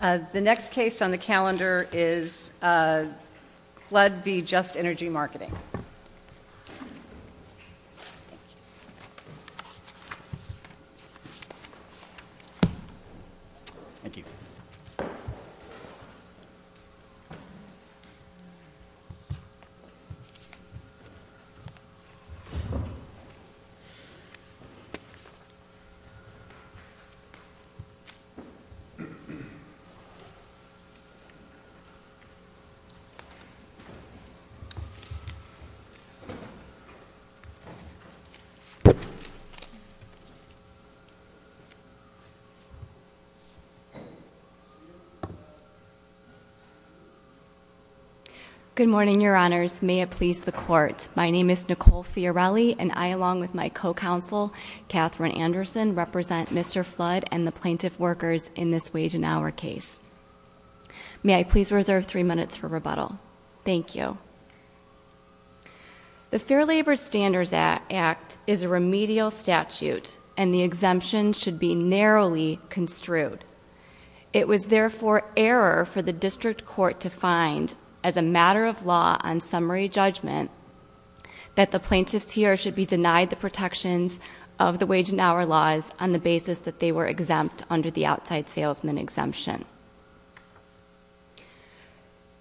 The next case on the calendar is Flood v. Just Energy Marketing. Good morning, Your Honors. May it please the Court. My name is Nicole Fiorelli, and I, along with my co-counsel Katherine Anderson, represent Mr. Flood and the plaintiff workers in this wage and hour case. May I please reserve three minutes for rebuttal? Thank you. The Fair Labor Standards Act is a remedial statute, and the exemption should be narrowly construed. It was therefore error for the District Court to find, as a matter of law on summary judgment, that the plaintiffs here should be denied the protections of the wage and hour laws on the basis that they were exempt under the outside salesman exemption.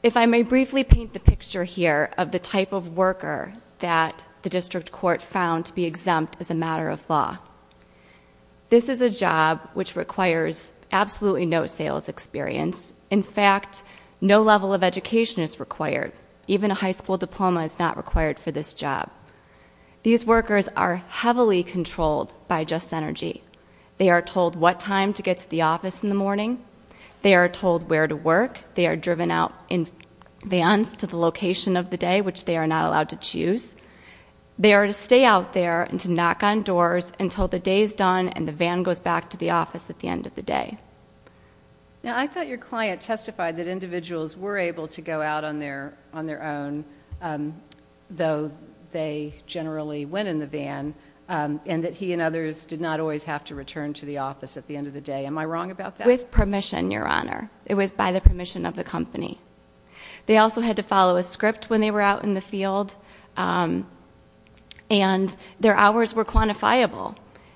If I may briefly paint the picture here of the type of worker that the District Court found to be exempt as a matter of law. This is a job which requires absolutely no sales experience. In fact, no level of education is required. Even a high school diploma is not required for this job. These workers are heavily controlled by Just Energy. They are told what time to get to the office in the morning. They are told where to work. They are driven out in vans to the location of the day, which they are not allowed to choose. They are to stay out there and to knock on doors until the day is done and the van goes back to the office at the end of the day. Now, I thought your client testified that individuals were able to go out on their own, though they generally went in the van, and that he and others did not always have to return to the office at the end of the day. Am I wrong about that? With permission, Your Honor. It was by the permission of the company. They also had to follow a script when they were out in the field, and their hours were quantifiable.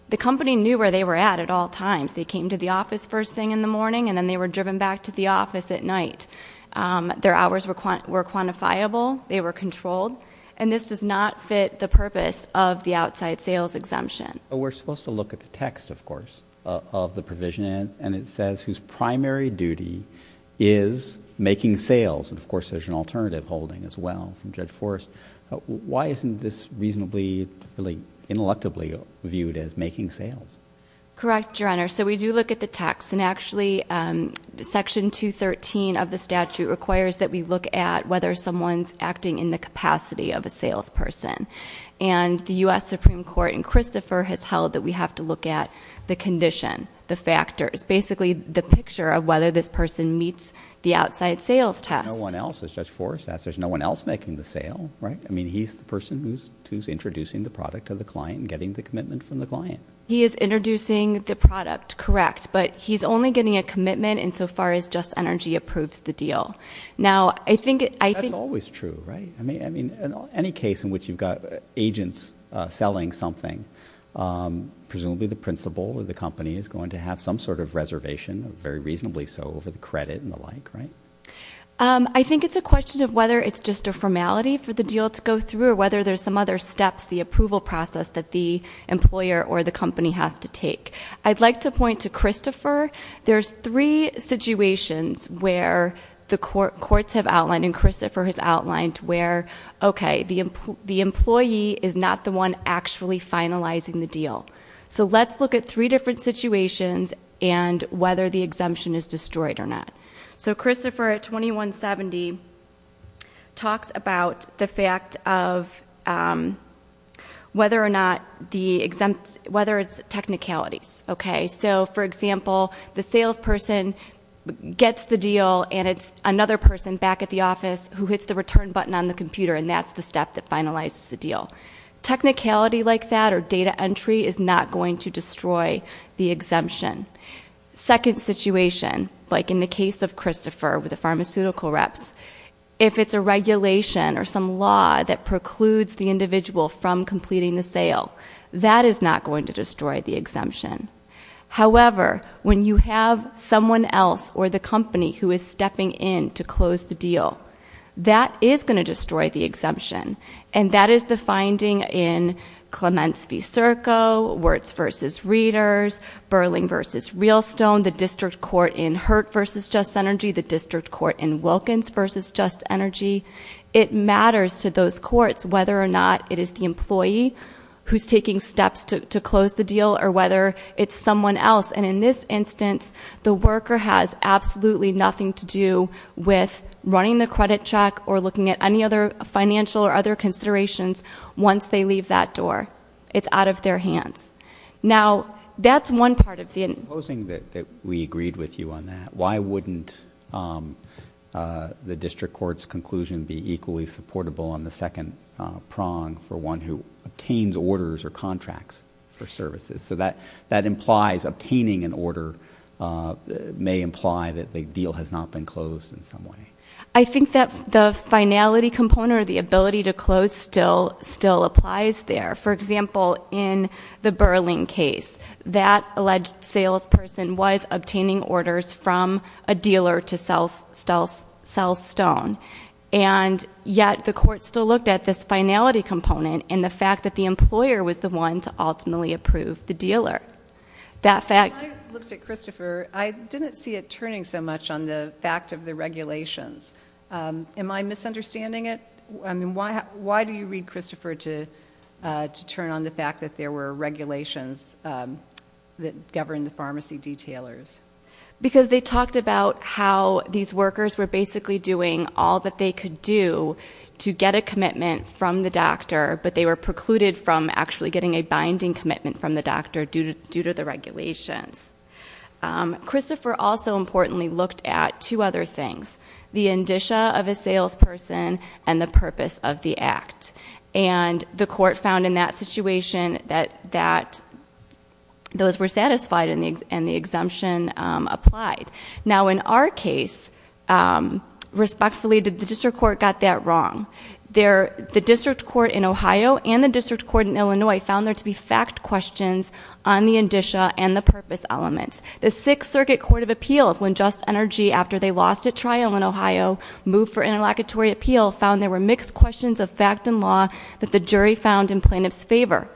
The company knew where they were at at all times. They came to the office first thing in the morning, and then they were driven back to the office at night. Their hours were quantifiable. They were controlled. This does not fit the purpose of the outside sales exemption. We're supposed to look at the text, of course, of the provision, and it says whose primary duty is making sales. Of course, there's an alternative holding as well from Judge Forrest. Why isn't this reasonably, really, intellectually viewed as making sales? Correct, Your Honor. We do look at the text, and actually, Section 213 of the statute requires that we look at whether someone's acting in the capacity of a salesperson. The U.S. Supreme Court in Christopher has held that we have to look at the condition, the factors, basically, the picture of whether this person meets the outside sales test. No one else, as Judge Forrest asked, there's no one else making the sale. He's the person who's introducing the product to the client and getting the commitment from the client. He is introducing the product, correct, but he's only getting a commitment insofar as Just Energy approves the deal. Now, I think... That's always true, right? I mean, any case in which you've got agents selling something, presumably the principal or the company is going to have some sort of reservation, very reasonably so, over the credit and the like, right? I think it's a question of whether it's just a formality for the deal to go through or whether there's some other steps, the approval process that the employer or the company has to take. I'd like to point to Christopher. There's three situations where the courts have outlined and Christopher has outlined where, okay, the employee is not the one actually finalizing the deal. So let's look at three different situations and whether the exemption is destroyed or not. So Christopher at 2170 talks about the fact of whether or not the exempt... Whether it's technicalities, okay? So, for example, the salesperson gets the deal and it's another person back at the office who hits the return button on the computer and that's the step that finalizes the deal. Technicality like that or data entry is not going to destroy the exemption. Second situation, like in the case of Christopher with the pharmaceutical reps, if it's a regulation or some law that precludes the individual from completing the sale, that is not going to destroy the exemption. However, when you have someone else or the company who is stepping in to close the deal, that is going to destroy the exemption and that is the finding in Clements v. Serco, Wirtz v. Readers, Burling v. Realstone, the district court in Hurt v. Just Energy, the district court in Wilkins v. Just Energy. It matters to those courts whether or not it is the employee who's taking steps to close the deal or whether it's someone else. And in this instance, the worker has absolutely nothing to do with running the credit check or looking at any other financial or other considerations once they leave that door. It's out of their hands. Now, that's one part of the... Supposing that we agreed with you on that, why wouldn't the district court's conclusion be equally supportable on the second prong for one who obtains orders or contracts for a deal has not been closed in some way? I think that the finality component or the ability to close still applies there. For example, in the Burling case, that alleged salesperson was obtaining orders from a dealer to sell stone. And yet, the court still looked at this finality component and the fact that the employer was the one to ultimately approve the dealer. That fact... And the fact of the regulations. Am I misunderstanding it? I mean, why do you read Christopher to turn on the fact that there were regulations that govern the pharmacy detailers? Because they talked about how these workers were basically doing all that they could do to get a commitment from the doctor, but they were precluded from actually getting a binding commitment from the doctor due to the regulations. Christopher also, importantly, looked at two other things. The indicia of a salesperson and the purpose of the act. And the court found in that situation that those were satisfied and the exemption applied. Now, in our case, respectfully, the district court got that wrong. The district court in this case did not look at the fact questions on the indicia and the purpose elements. The 6th Circuit Court of Appeals, when Just Energy, after they lost at trial in Ohio, moved for interlocutory appeal, found there were mixed questions of fact and law that the jury found in plaintiff's favor.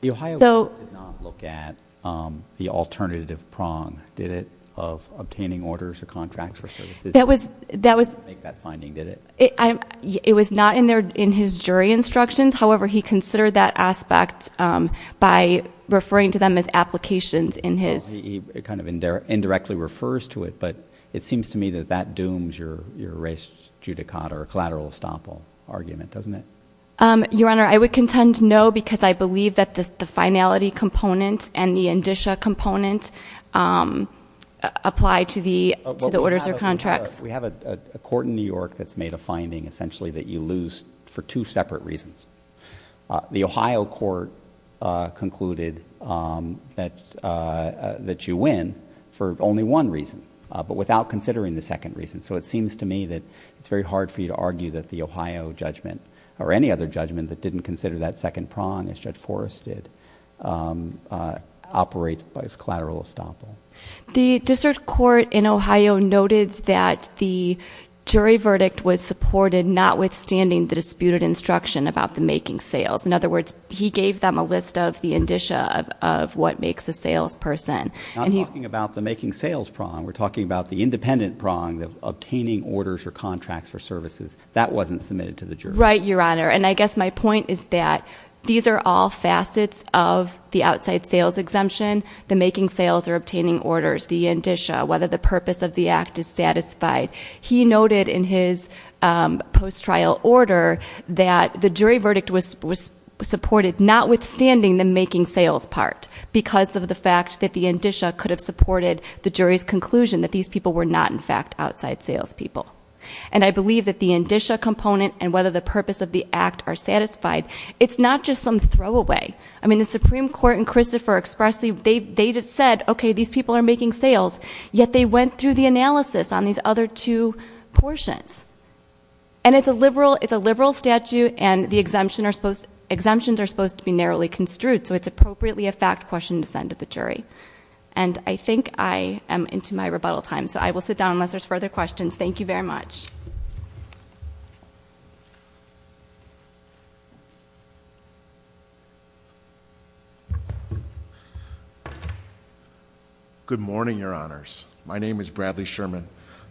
The Ohio court did not look at the alternative prong, did it, of obtaining orders or contracts for services? That was...... to make that finding, did it? It was not in his jury instructions. However, he considered that aspect by referring to them as applications in his... He kind of indirectly refers to it, but it seems to me that that dooms your res judicata or collateral estoppel argument, doesn't it? Your Honor, I would contend no, because I believe that the finality component and the indicia component apply to the orders or contracts. We have a court in New York that's made a finding, essentially, that you lose for two separate reasons. The Ohio court concluded that you win for only one reason, but without considering the second reason. So it seems to me that it's very hard for you to argue that the Ohio judgment or any other judgment that didn't consider that second prong, as Judge Forrest did, operates by its collateral estoppel. The district court in Ohio noted that the jury verdict was supported notwithstanding the disputed instruction about the making sales. In other words, he gave them a list of the indicia of what makes a salesperson. We're not talking about the making sales prong. We're talking about the independent prong, the obtaining orders or contracts for services. That wasn't submitted to the jury. Right, Your Honor. And I guess my point is that these are all facets of the outside sales exemption, the making sales or obtaining orders, the indicia, whether the purpose of the act is satisfied. He noted in his post-trial order that the jury verdict was supported notwithstanding the making sales part because of the fact that the indicia could have supported the jury's conclusion that these people were not, in fact, outside salespeople. And I believe that the indicia component and whether the purpose of the act are satisfied, it's not just some throwaway. I mean, the Supreme Court and Christopher expressly, they just said, okay, these people are making sales, yet they went through the analysis on these other two portions. And it's a liberal statute and the exemptions are supposed to be narrowly construed so it's appropriately a fact question to send to the jury. And I think I am into my rebuttal time, so I will sit down unless there's further questions. Thank you very much. Good morning, Your Honors. My name is Bradley Sherman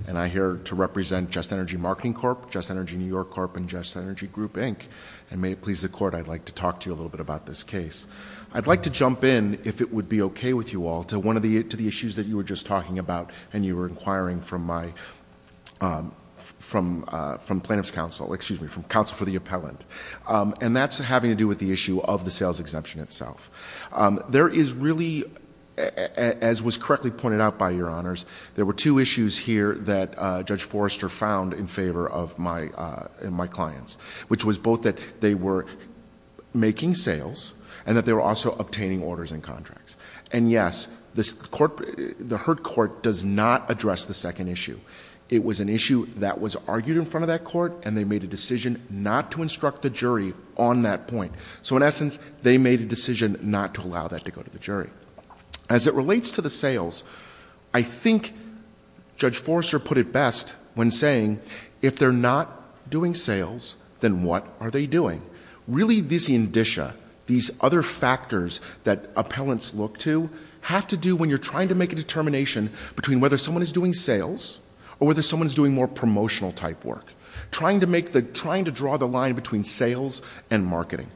and I'm here to represent Just Energy Marketing Corp., Just Energy New York Corp., and Just Energy Group, Inc. And may it please the Court, I'd like to talk to you a little bit about this case. I'd like to jump in, if it would be okay with you all, to one of the issues that you were just talking about and you were inquiring from Plaintiff's Counsel, excuse me, from Counsel for the Appellant. And that's having to do with the issue of the sales exemption itself. There is really, as was correctly pointed out by Your Honors, there were two issues here that Judge Forrester found in favor of my clients, which was both that they were making sales and that they were also obtaining orders and contracts. And yes, the Hurt Court does not address the second issue. It was an issue that was argued in front of that Court and they made a decision not to instruct the jury on that point. So in essence, they made a decision not to allow that to go to the jury. As it relates to the sales, I think Judge Forrester put it best when saying, if they're not doing sales, then what are they doing? Really this indicia, these other factors that appellants look to, have to do when you're trying to make a determination between whether someone is doing sales or whether someone is doing more promotional type work. Trying to make the, trying to draw the line between sales and marketing.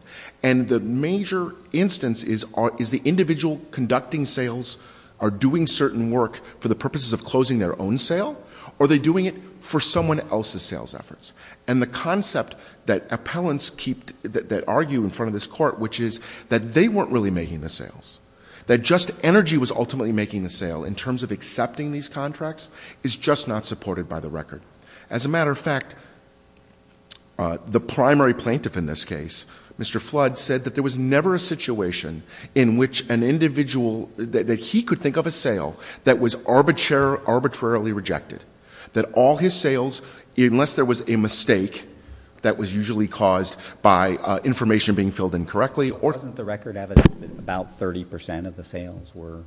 And the major instance is the individual conducting sales are doing certain work for the purposes of closing their own sale or they're doing it for someone else's sales efforts. And the other part, which is that they weren't really making the sales. That just energy was ultimately making the sale in terms of accepting these contracts is just not supported by the record. As a matter of fact, the primary plaintiff in this case, Mr. Flood, said that there was never a situation in which an individual, that he could think of a sale that was arbitrarily rejected. That all his sales, unless there was a mistake that was usually caused by information being filled in correctly. Wasn't the record evidence that about 30% of the sales were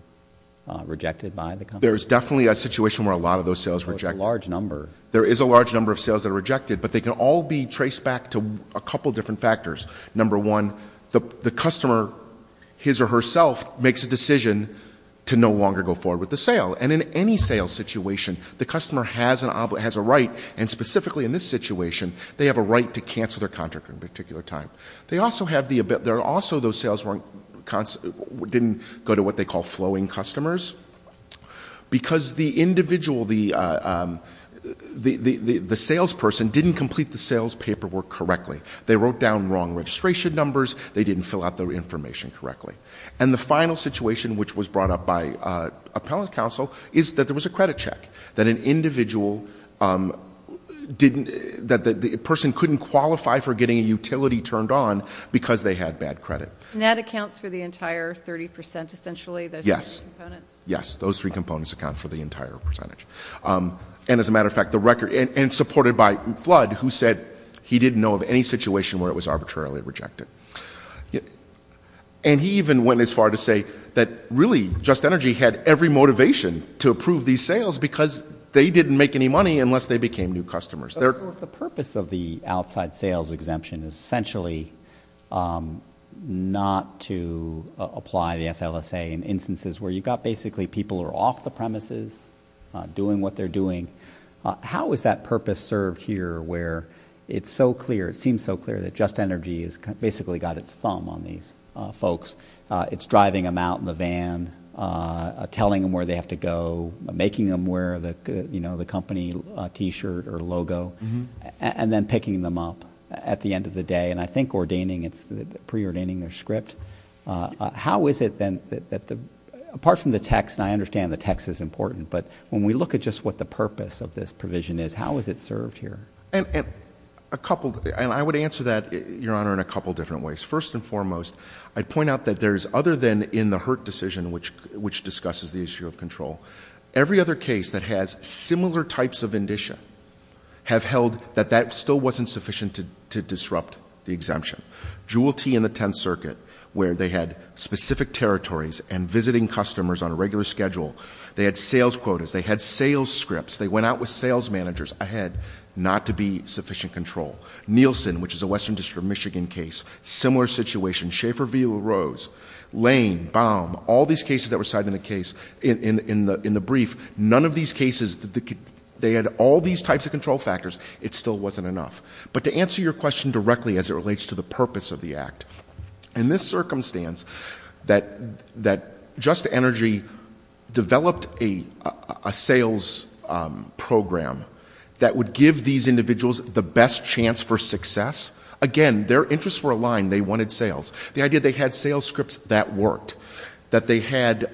rejected by the company? There is definitely a situation where a lot of those sales were rejected. So it's a large number. There is a large number of sales that are rejected, but they can all be traced back to a couple of different factors. Number one, the customer, his or herself, makes a decision to no longer go forward with the sale. And in any sales situation, the customer has a right and specifically in this situation, they have a right to cancel their contract at a particular time. They also have the, there are also those sales that didn't go to what they call flowing customers because the individual, the salesperson didn't complete the sales paperwork correctly. They wrote down wrong registration numbers. They didn't fill out the information correctly. And the final situation which was brought up by appellate counsel is that there was a credit check that an individual didn't, that the person couldn't qualify for getting a utility turned on because they had bad credit. And that accounts for the entire 30% essentially, those three components? Yes. Those three components account for the entire percentage. And as a matter of fact, the record, and supported by Flood, who said he didn't know of any situation where it was arbitrarily rejected. And he even went as far to say that really Just Energy had every sales because they didn't make any money unless they became new customers. The purpose of the outside sales exemption is essentially not to apply the FLSA in instances where you've got basically people who are off the premises, doing what they're doing. How is that purpose served here where it's so clear, it seems so clear that Just Energy has basically got its thumb on these folks. It's driving them out in the van, telling them where they have to go, making them wear the company t-shirt or logo, and then picking them up at the end of the day. And I think pre-ordaining their script. How is it then that, apart from the text, and I understand the text is important, but when we look at just what the purpose of this provision is, how is it served here? I would answer that, Your Honor, in a couple different ways. First and foremost, I'd point out that this is the issue of control. Every other case that has similar types of indicia have held that that still wasn't sufficient to disrupt the exemption. Jewel Tee and the Tenth Circuit, where they had specific territories and visiting customers on a regular schedule, they had sales quotas, they had sales scripts, they went out with sales managers ahead, not to be sufficient control. Nielsen, which is a Western District of Michigan case, similar situation. Schaefer v. LaRose, Lane, Baum, all these cases that were cited in the brief, none of these cases, they had all these types of control factors, it still wasn't enough. But to answer your question directly as it relates to the purpose of the Act, in this circumstance that Just Energy developed a sales program that would give these individuals the best chance for success, again, their interests were aligned, they wanted sales. The idea that they had sales scripts, that worked. That they had,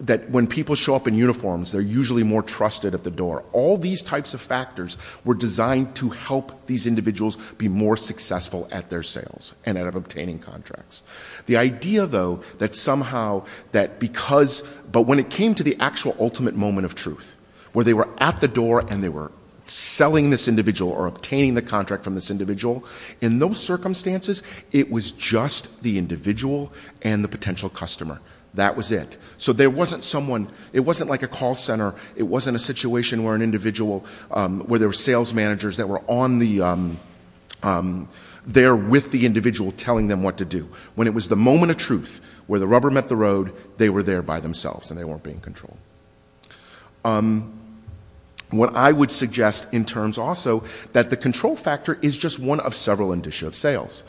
that when people show up in uniforms, they're usually more trusted at the door. All these types of factors were designed to help these individuals be more successful at their sales and at obtaining contracts. The idea, though, that somehow, that because, but when it came to the actual ultimate moment of truth, where they were at the door and they were selling this individual or obtaining the contract from this individual, in those circumstances, it was just the individual and the potential customer. That was it. So there wasn't someone, it wasn't like a call center, it wasn't a situation where an individual, where there were sales managers that were on the, there with the individual telling them what to do. When it was the moment of truth, where the rubber met the road, they were there by themselves and they weren't being controlled. What I would suggest in terms also, that the control factor is just one of several indicia of sales.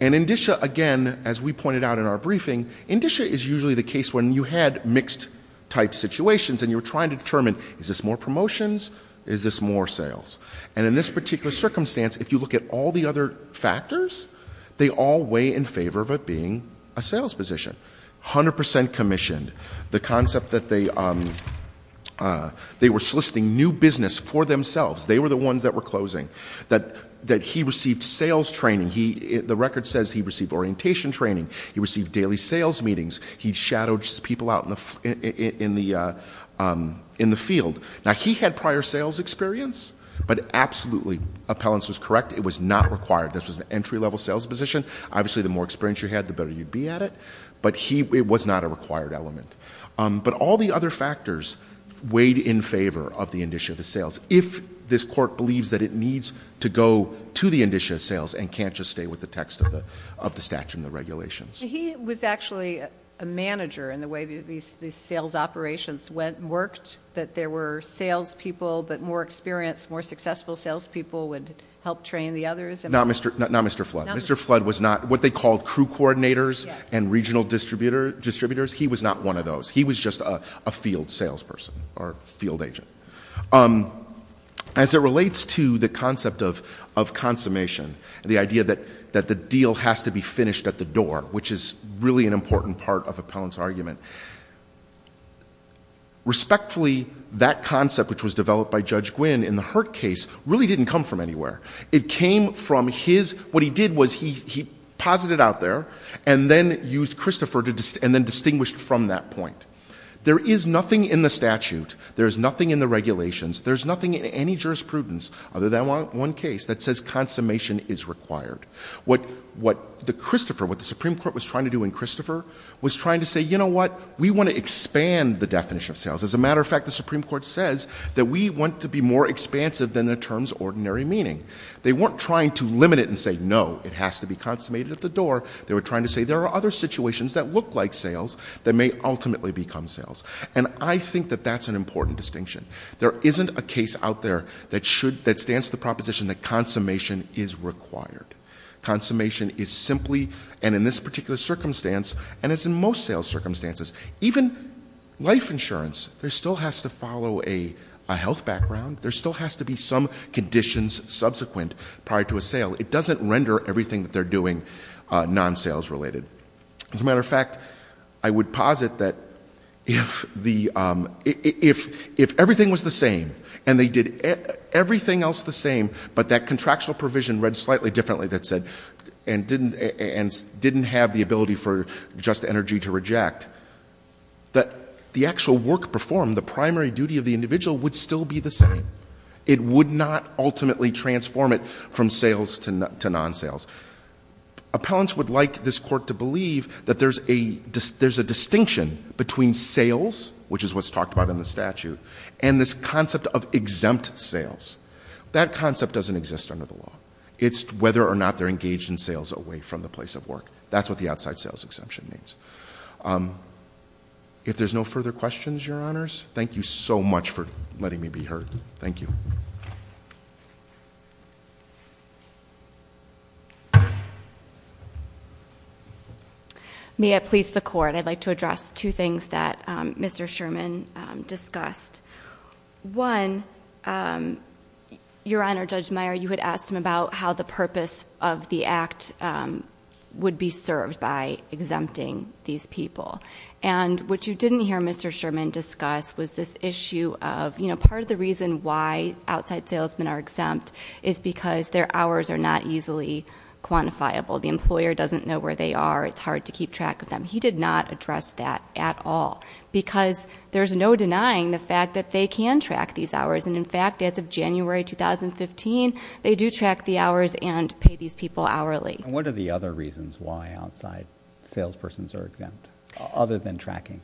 And indicia, again, as we pointed out in our briefing, indicia is usually the case when you had mixed type situations and you were trying to determine, is this more promotions, is this more sales? And in this particular circumstance, if you look at all the other factors, they all weigh in favor of it being a sales position. 100% commissioned, the concept that they were soliciting new business for themselves, they were the ones that were closing, that he received sales training, the record says he received orientation training, he received daily sales meetings, he shadowed people out in the field. Now he had prior sales experience, but absolutely, appellants was correct, it was not required. This was an entry level sales position, obviously the more experience you had, the better you'd be at it, but it was not a required element. But all the other factors weighed in favor of the indicia of sales. If this court believes that it needs to go to the indicia of sales and can't just stay with the text of the statute and the regulations. He was actually a manager in the way these sales operations went and worked, that there were sales people, but more experienced, more successful sales people would help train the others. Not Mr. Flood. Mr. Flood was not what they called crew coordinators and regional distributors, he was not one of those. He was just a field sales person or field agent. As it relates to the concept of consummation, the idea that the deal has to be finished at the door, which is really an important part of appellant's argument, respectfully that concept which was developed by Judge Gwynne in the Hurt case really didn't come from anywhere. It came from his, what he did was he posited out there and then used Christopher and then distinguished from that point. There is nothing in the statute, there is nothing in the regulations, there is nothing in any jurisprudence other than one case that says consummation is required. What the Christopher, what the Supreme Court was trying to do in Christopher was trying to say, you know what, we want to expand the definition of sales. As a matter of fact, the Supreme Court says that we want to be more expansive than the ordinary meaning. They weren't trying to limit it and say no, it has to be consummated at the door. They were trying to say there are other situations that look like sales that may ultimately become sales. And I think that that's an important distinction. There isn't a case out there that should, that stands to the proposition that consummation is required. Consummation is simply, and in this particular circumstance, and it's in most sales circumstances, even life insurance, there still has to follow a health background, there still has to be some conditions subsequent prior to a sale. It doesn't render everything that they're doing non-sales related. As a matter of fact, I would posit that if the, if everything was the same, and they did everything else the same, but that contractual provision read slightly differently that said, and didn't, and didn't have the ability for just energy to reject, that the actual work performed, the primary duty of the individual would still be the same. It would not ultimately transform it from sales to non-sales. Appellants would like this court to believe that there's a distinction between sales, which is what's talked about in the statute, and this concept of exempt sales. That concept doesn't exist under the law. It's whether or not they're engaged in sales away from the place of work. That's what the outside sales exemption means. If there's no further questions, Your Honors, thank you so much for letting me be heard. Thank you. May I please the court? I'd like to address two things that Mr. Sherman discussed. One, Your Honor, Judge Meyer, you had asked him about how the purpose of the act would be this issue of, part of the reason why outside salesmen are exempt is because their hours are not easily quantifiable. The employer doesn't know where they are. It's hard to keep track of them. He did not address that at all, because there's no denying the fact that they can track these hours. In fact, as of January 2015, they do track the hours and pay these people hourly. What are the other reasons why outside salespersons are exempt, other than tracking?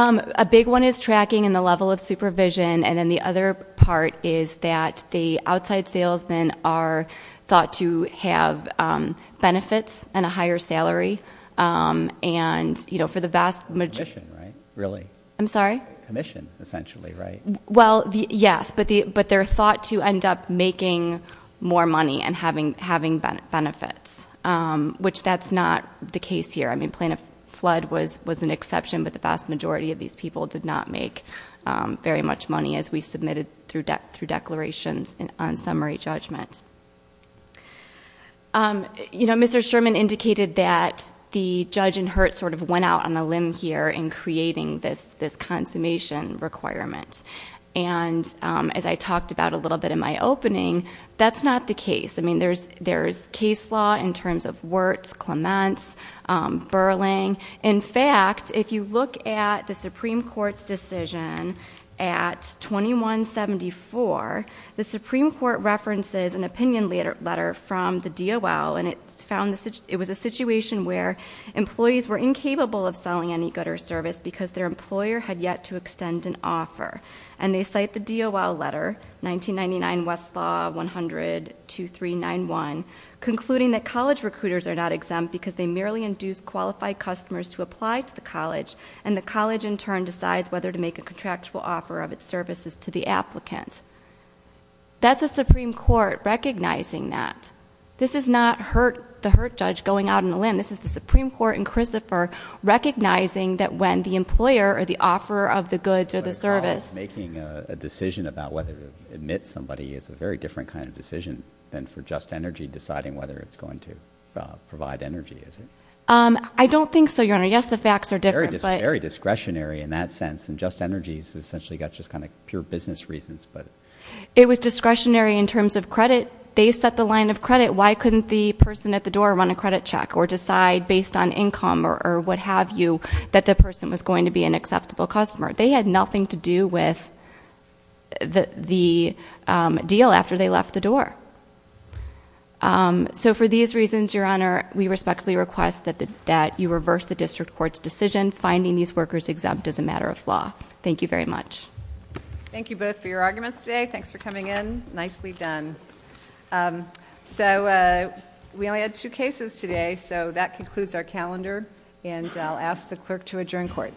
A big one is tracking and the level of supervision. Then the other part is that the outside salesmen are thought to have benefits and a higher salary. Commission, right? I'm sorry? Commission, essentially, right? Yes, but they're thought to end up making more money and having benefits, which that's not the case here. I mean, Plain of Flood was an exception, but the vast majority of these people did not make very much money, as we submitted through declarations on summary judgment. Mr. Sherman indicated that the judge in Hurt sort of went out on a limb here in creating this consummation requirement. As I talked about a little bit in my opening, that's not the case. I mean, there's case law in terms of Wirtz, Clements, Burling. In fact, if you look at the Supreme Court's decision at 2174, the Supreme Court references an opinion letter from the DOL, and it was a situation where employees were incapable of selling any good or service because their employer had yet to extend an offer. And they cite the DOL letter, 1999 Westlaw 100-2391, concluding that college recruiters are not exempt because they merely induce qualified customers to apply to the college, and the college in turn decides whether to make a contractual offer of its services to the applicant. That's the Supreme Court recognizing that. This is not the Hurt judge going out on a limb. This is the Supreme Court in Christopher recognizing that when the employer or the offerer of the decision about whether to admit somebody is a very different kind of decision than for Just Energy deciding whether it's going to provide energy, is it? I don't think so, Your Honor. Yes, the facts are different, but Very discretionary in that sense, and Just Energy's essentially got just kind of pure business reasons, but It was discretionary in terms of credit. They set the line of credit. Why couldn't the person at the door run a credit check or decide based on income or what have you that the person was going to be an acceptable customer? They had nothing to do with the deal after they left the door. So for these reasons, Your Honor, we respectfully request that you reverse the district court's decision, finding these workers exempt as a matter of law. Thank you very much. Thank you both for your arguments today. Thanks for coming in. Nicely done. So we only had two cases today, so that concludes our calendar, and I'll ask the clerk to adjourn court.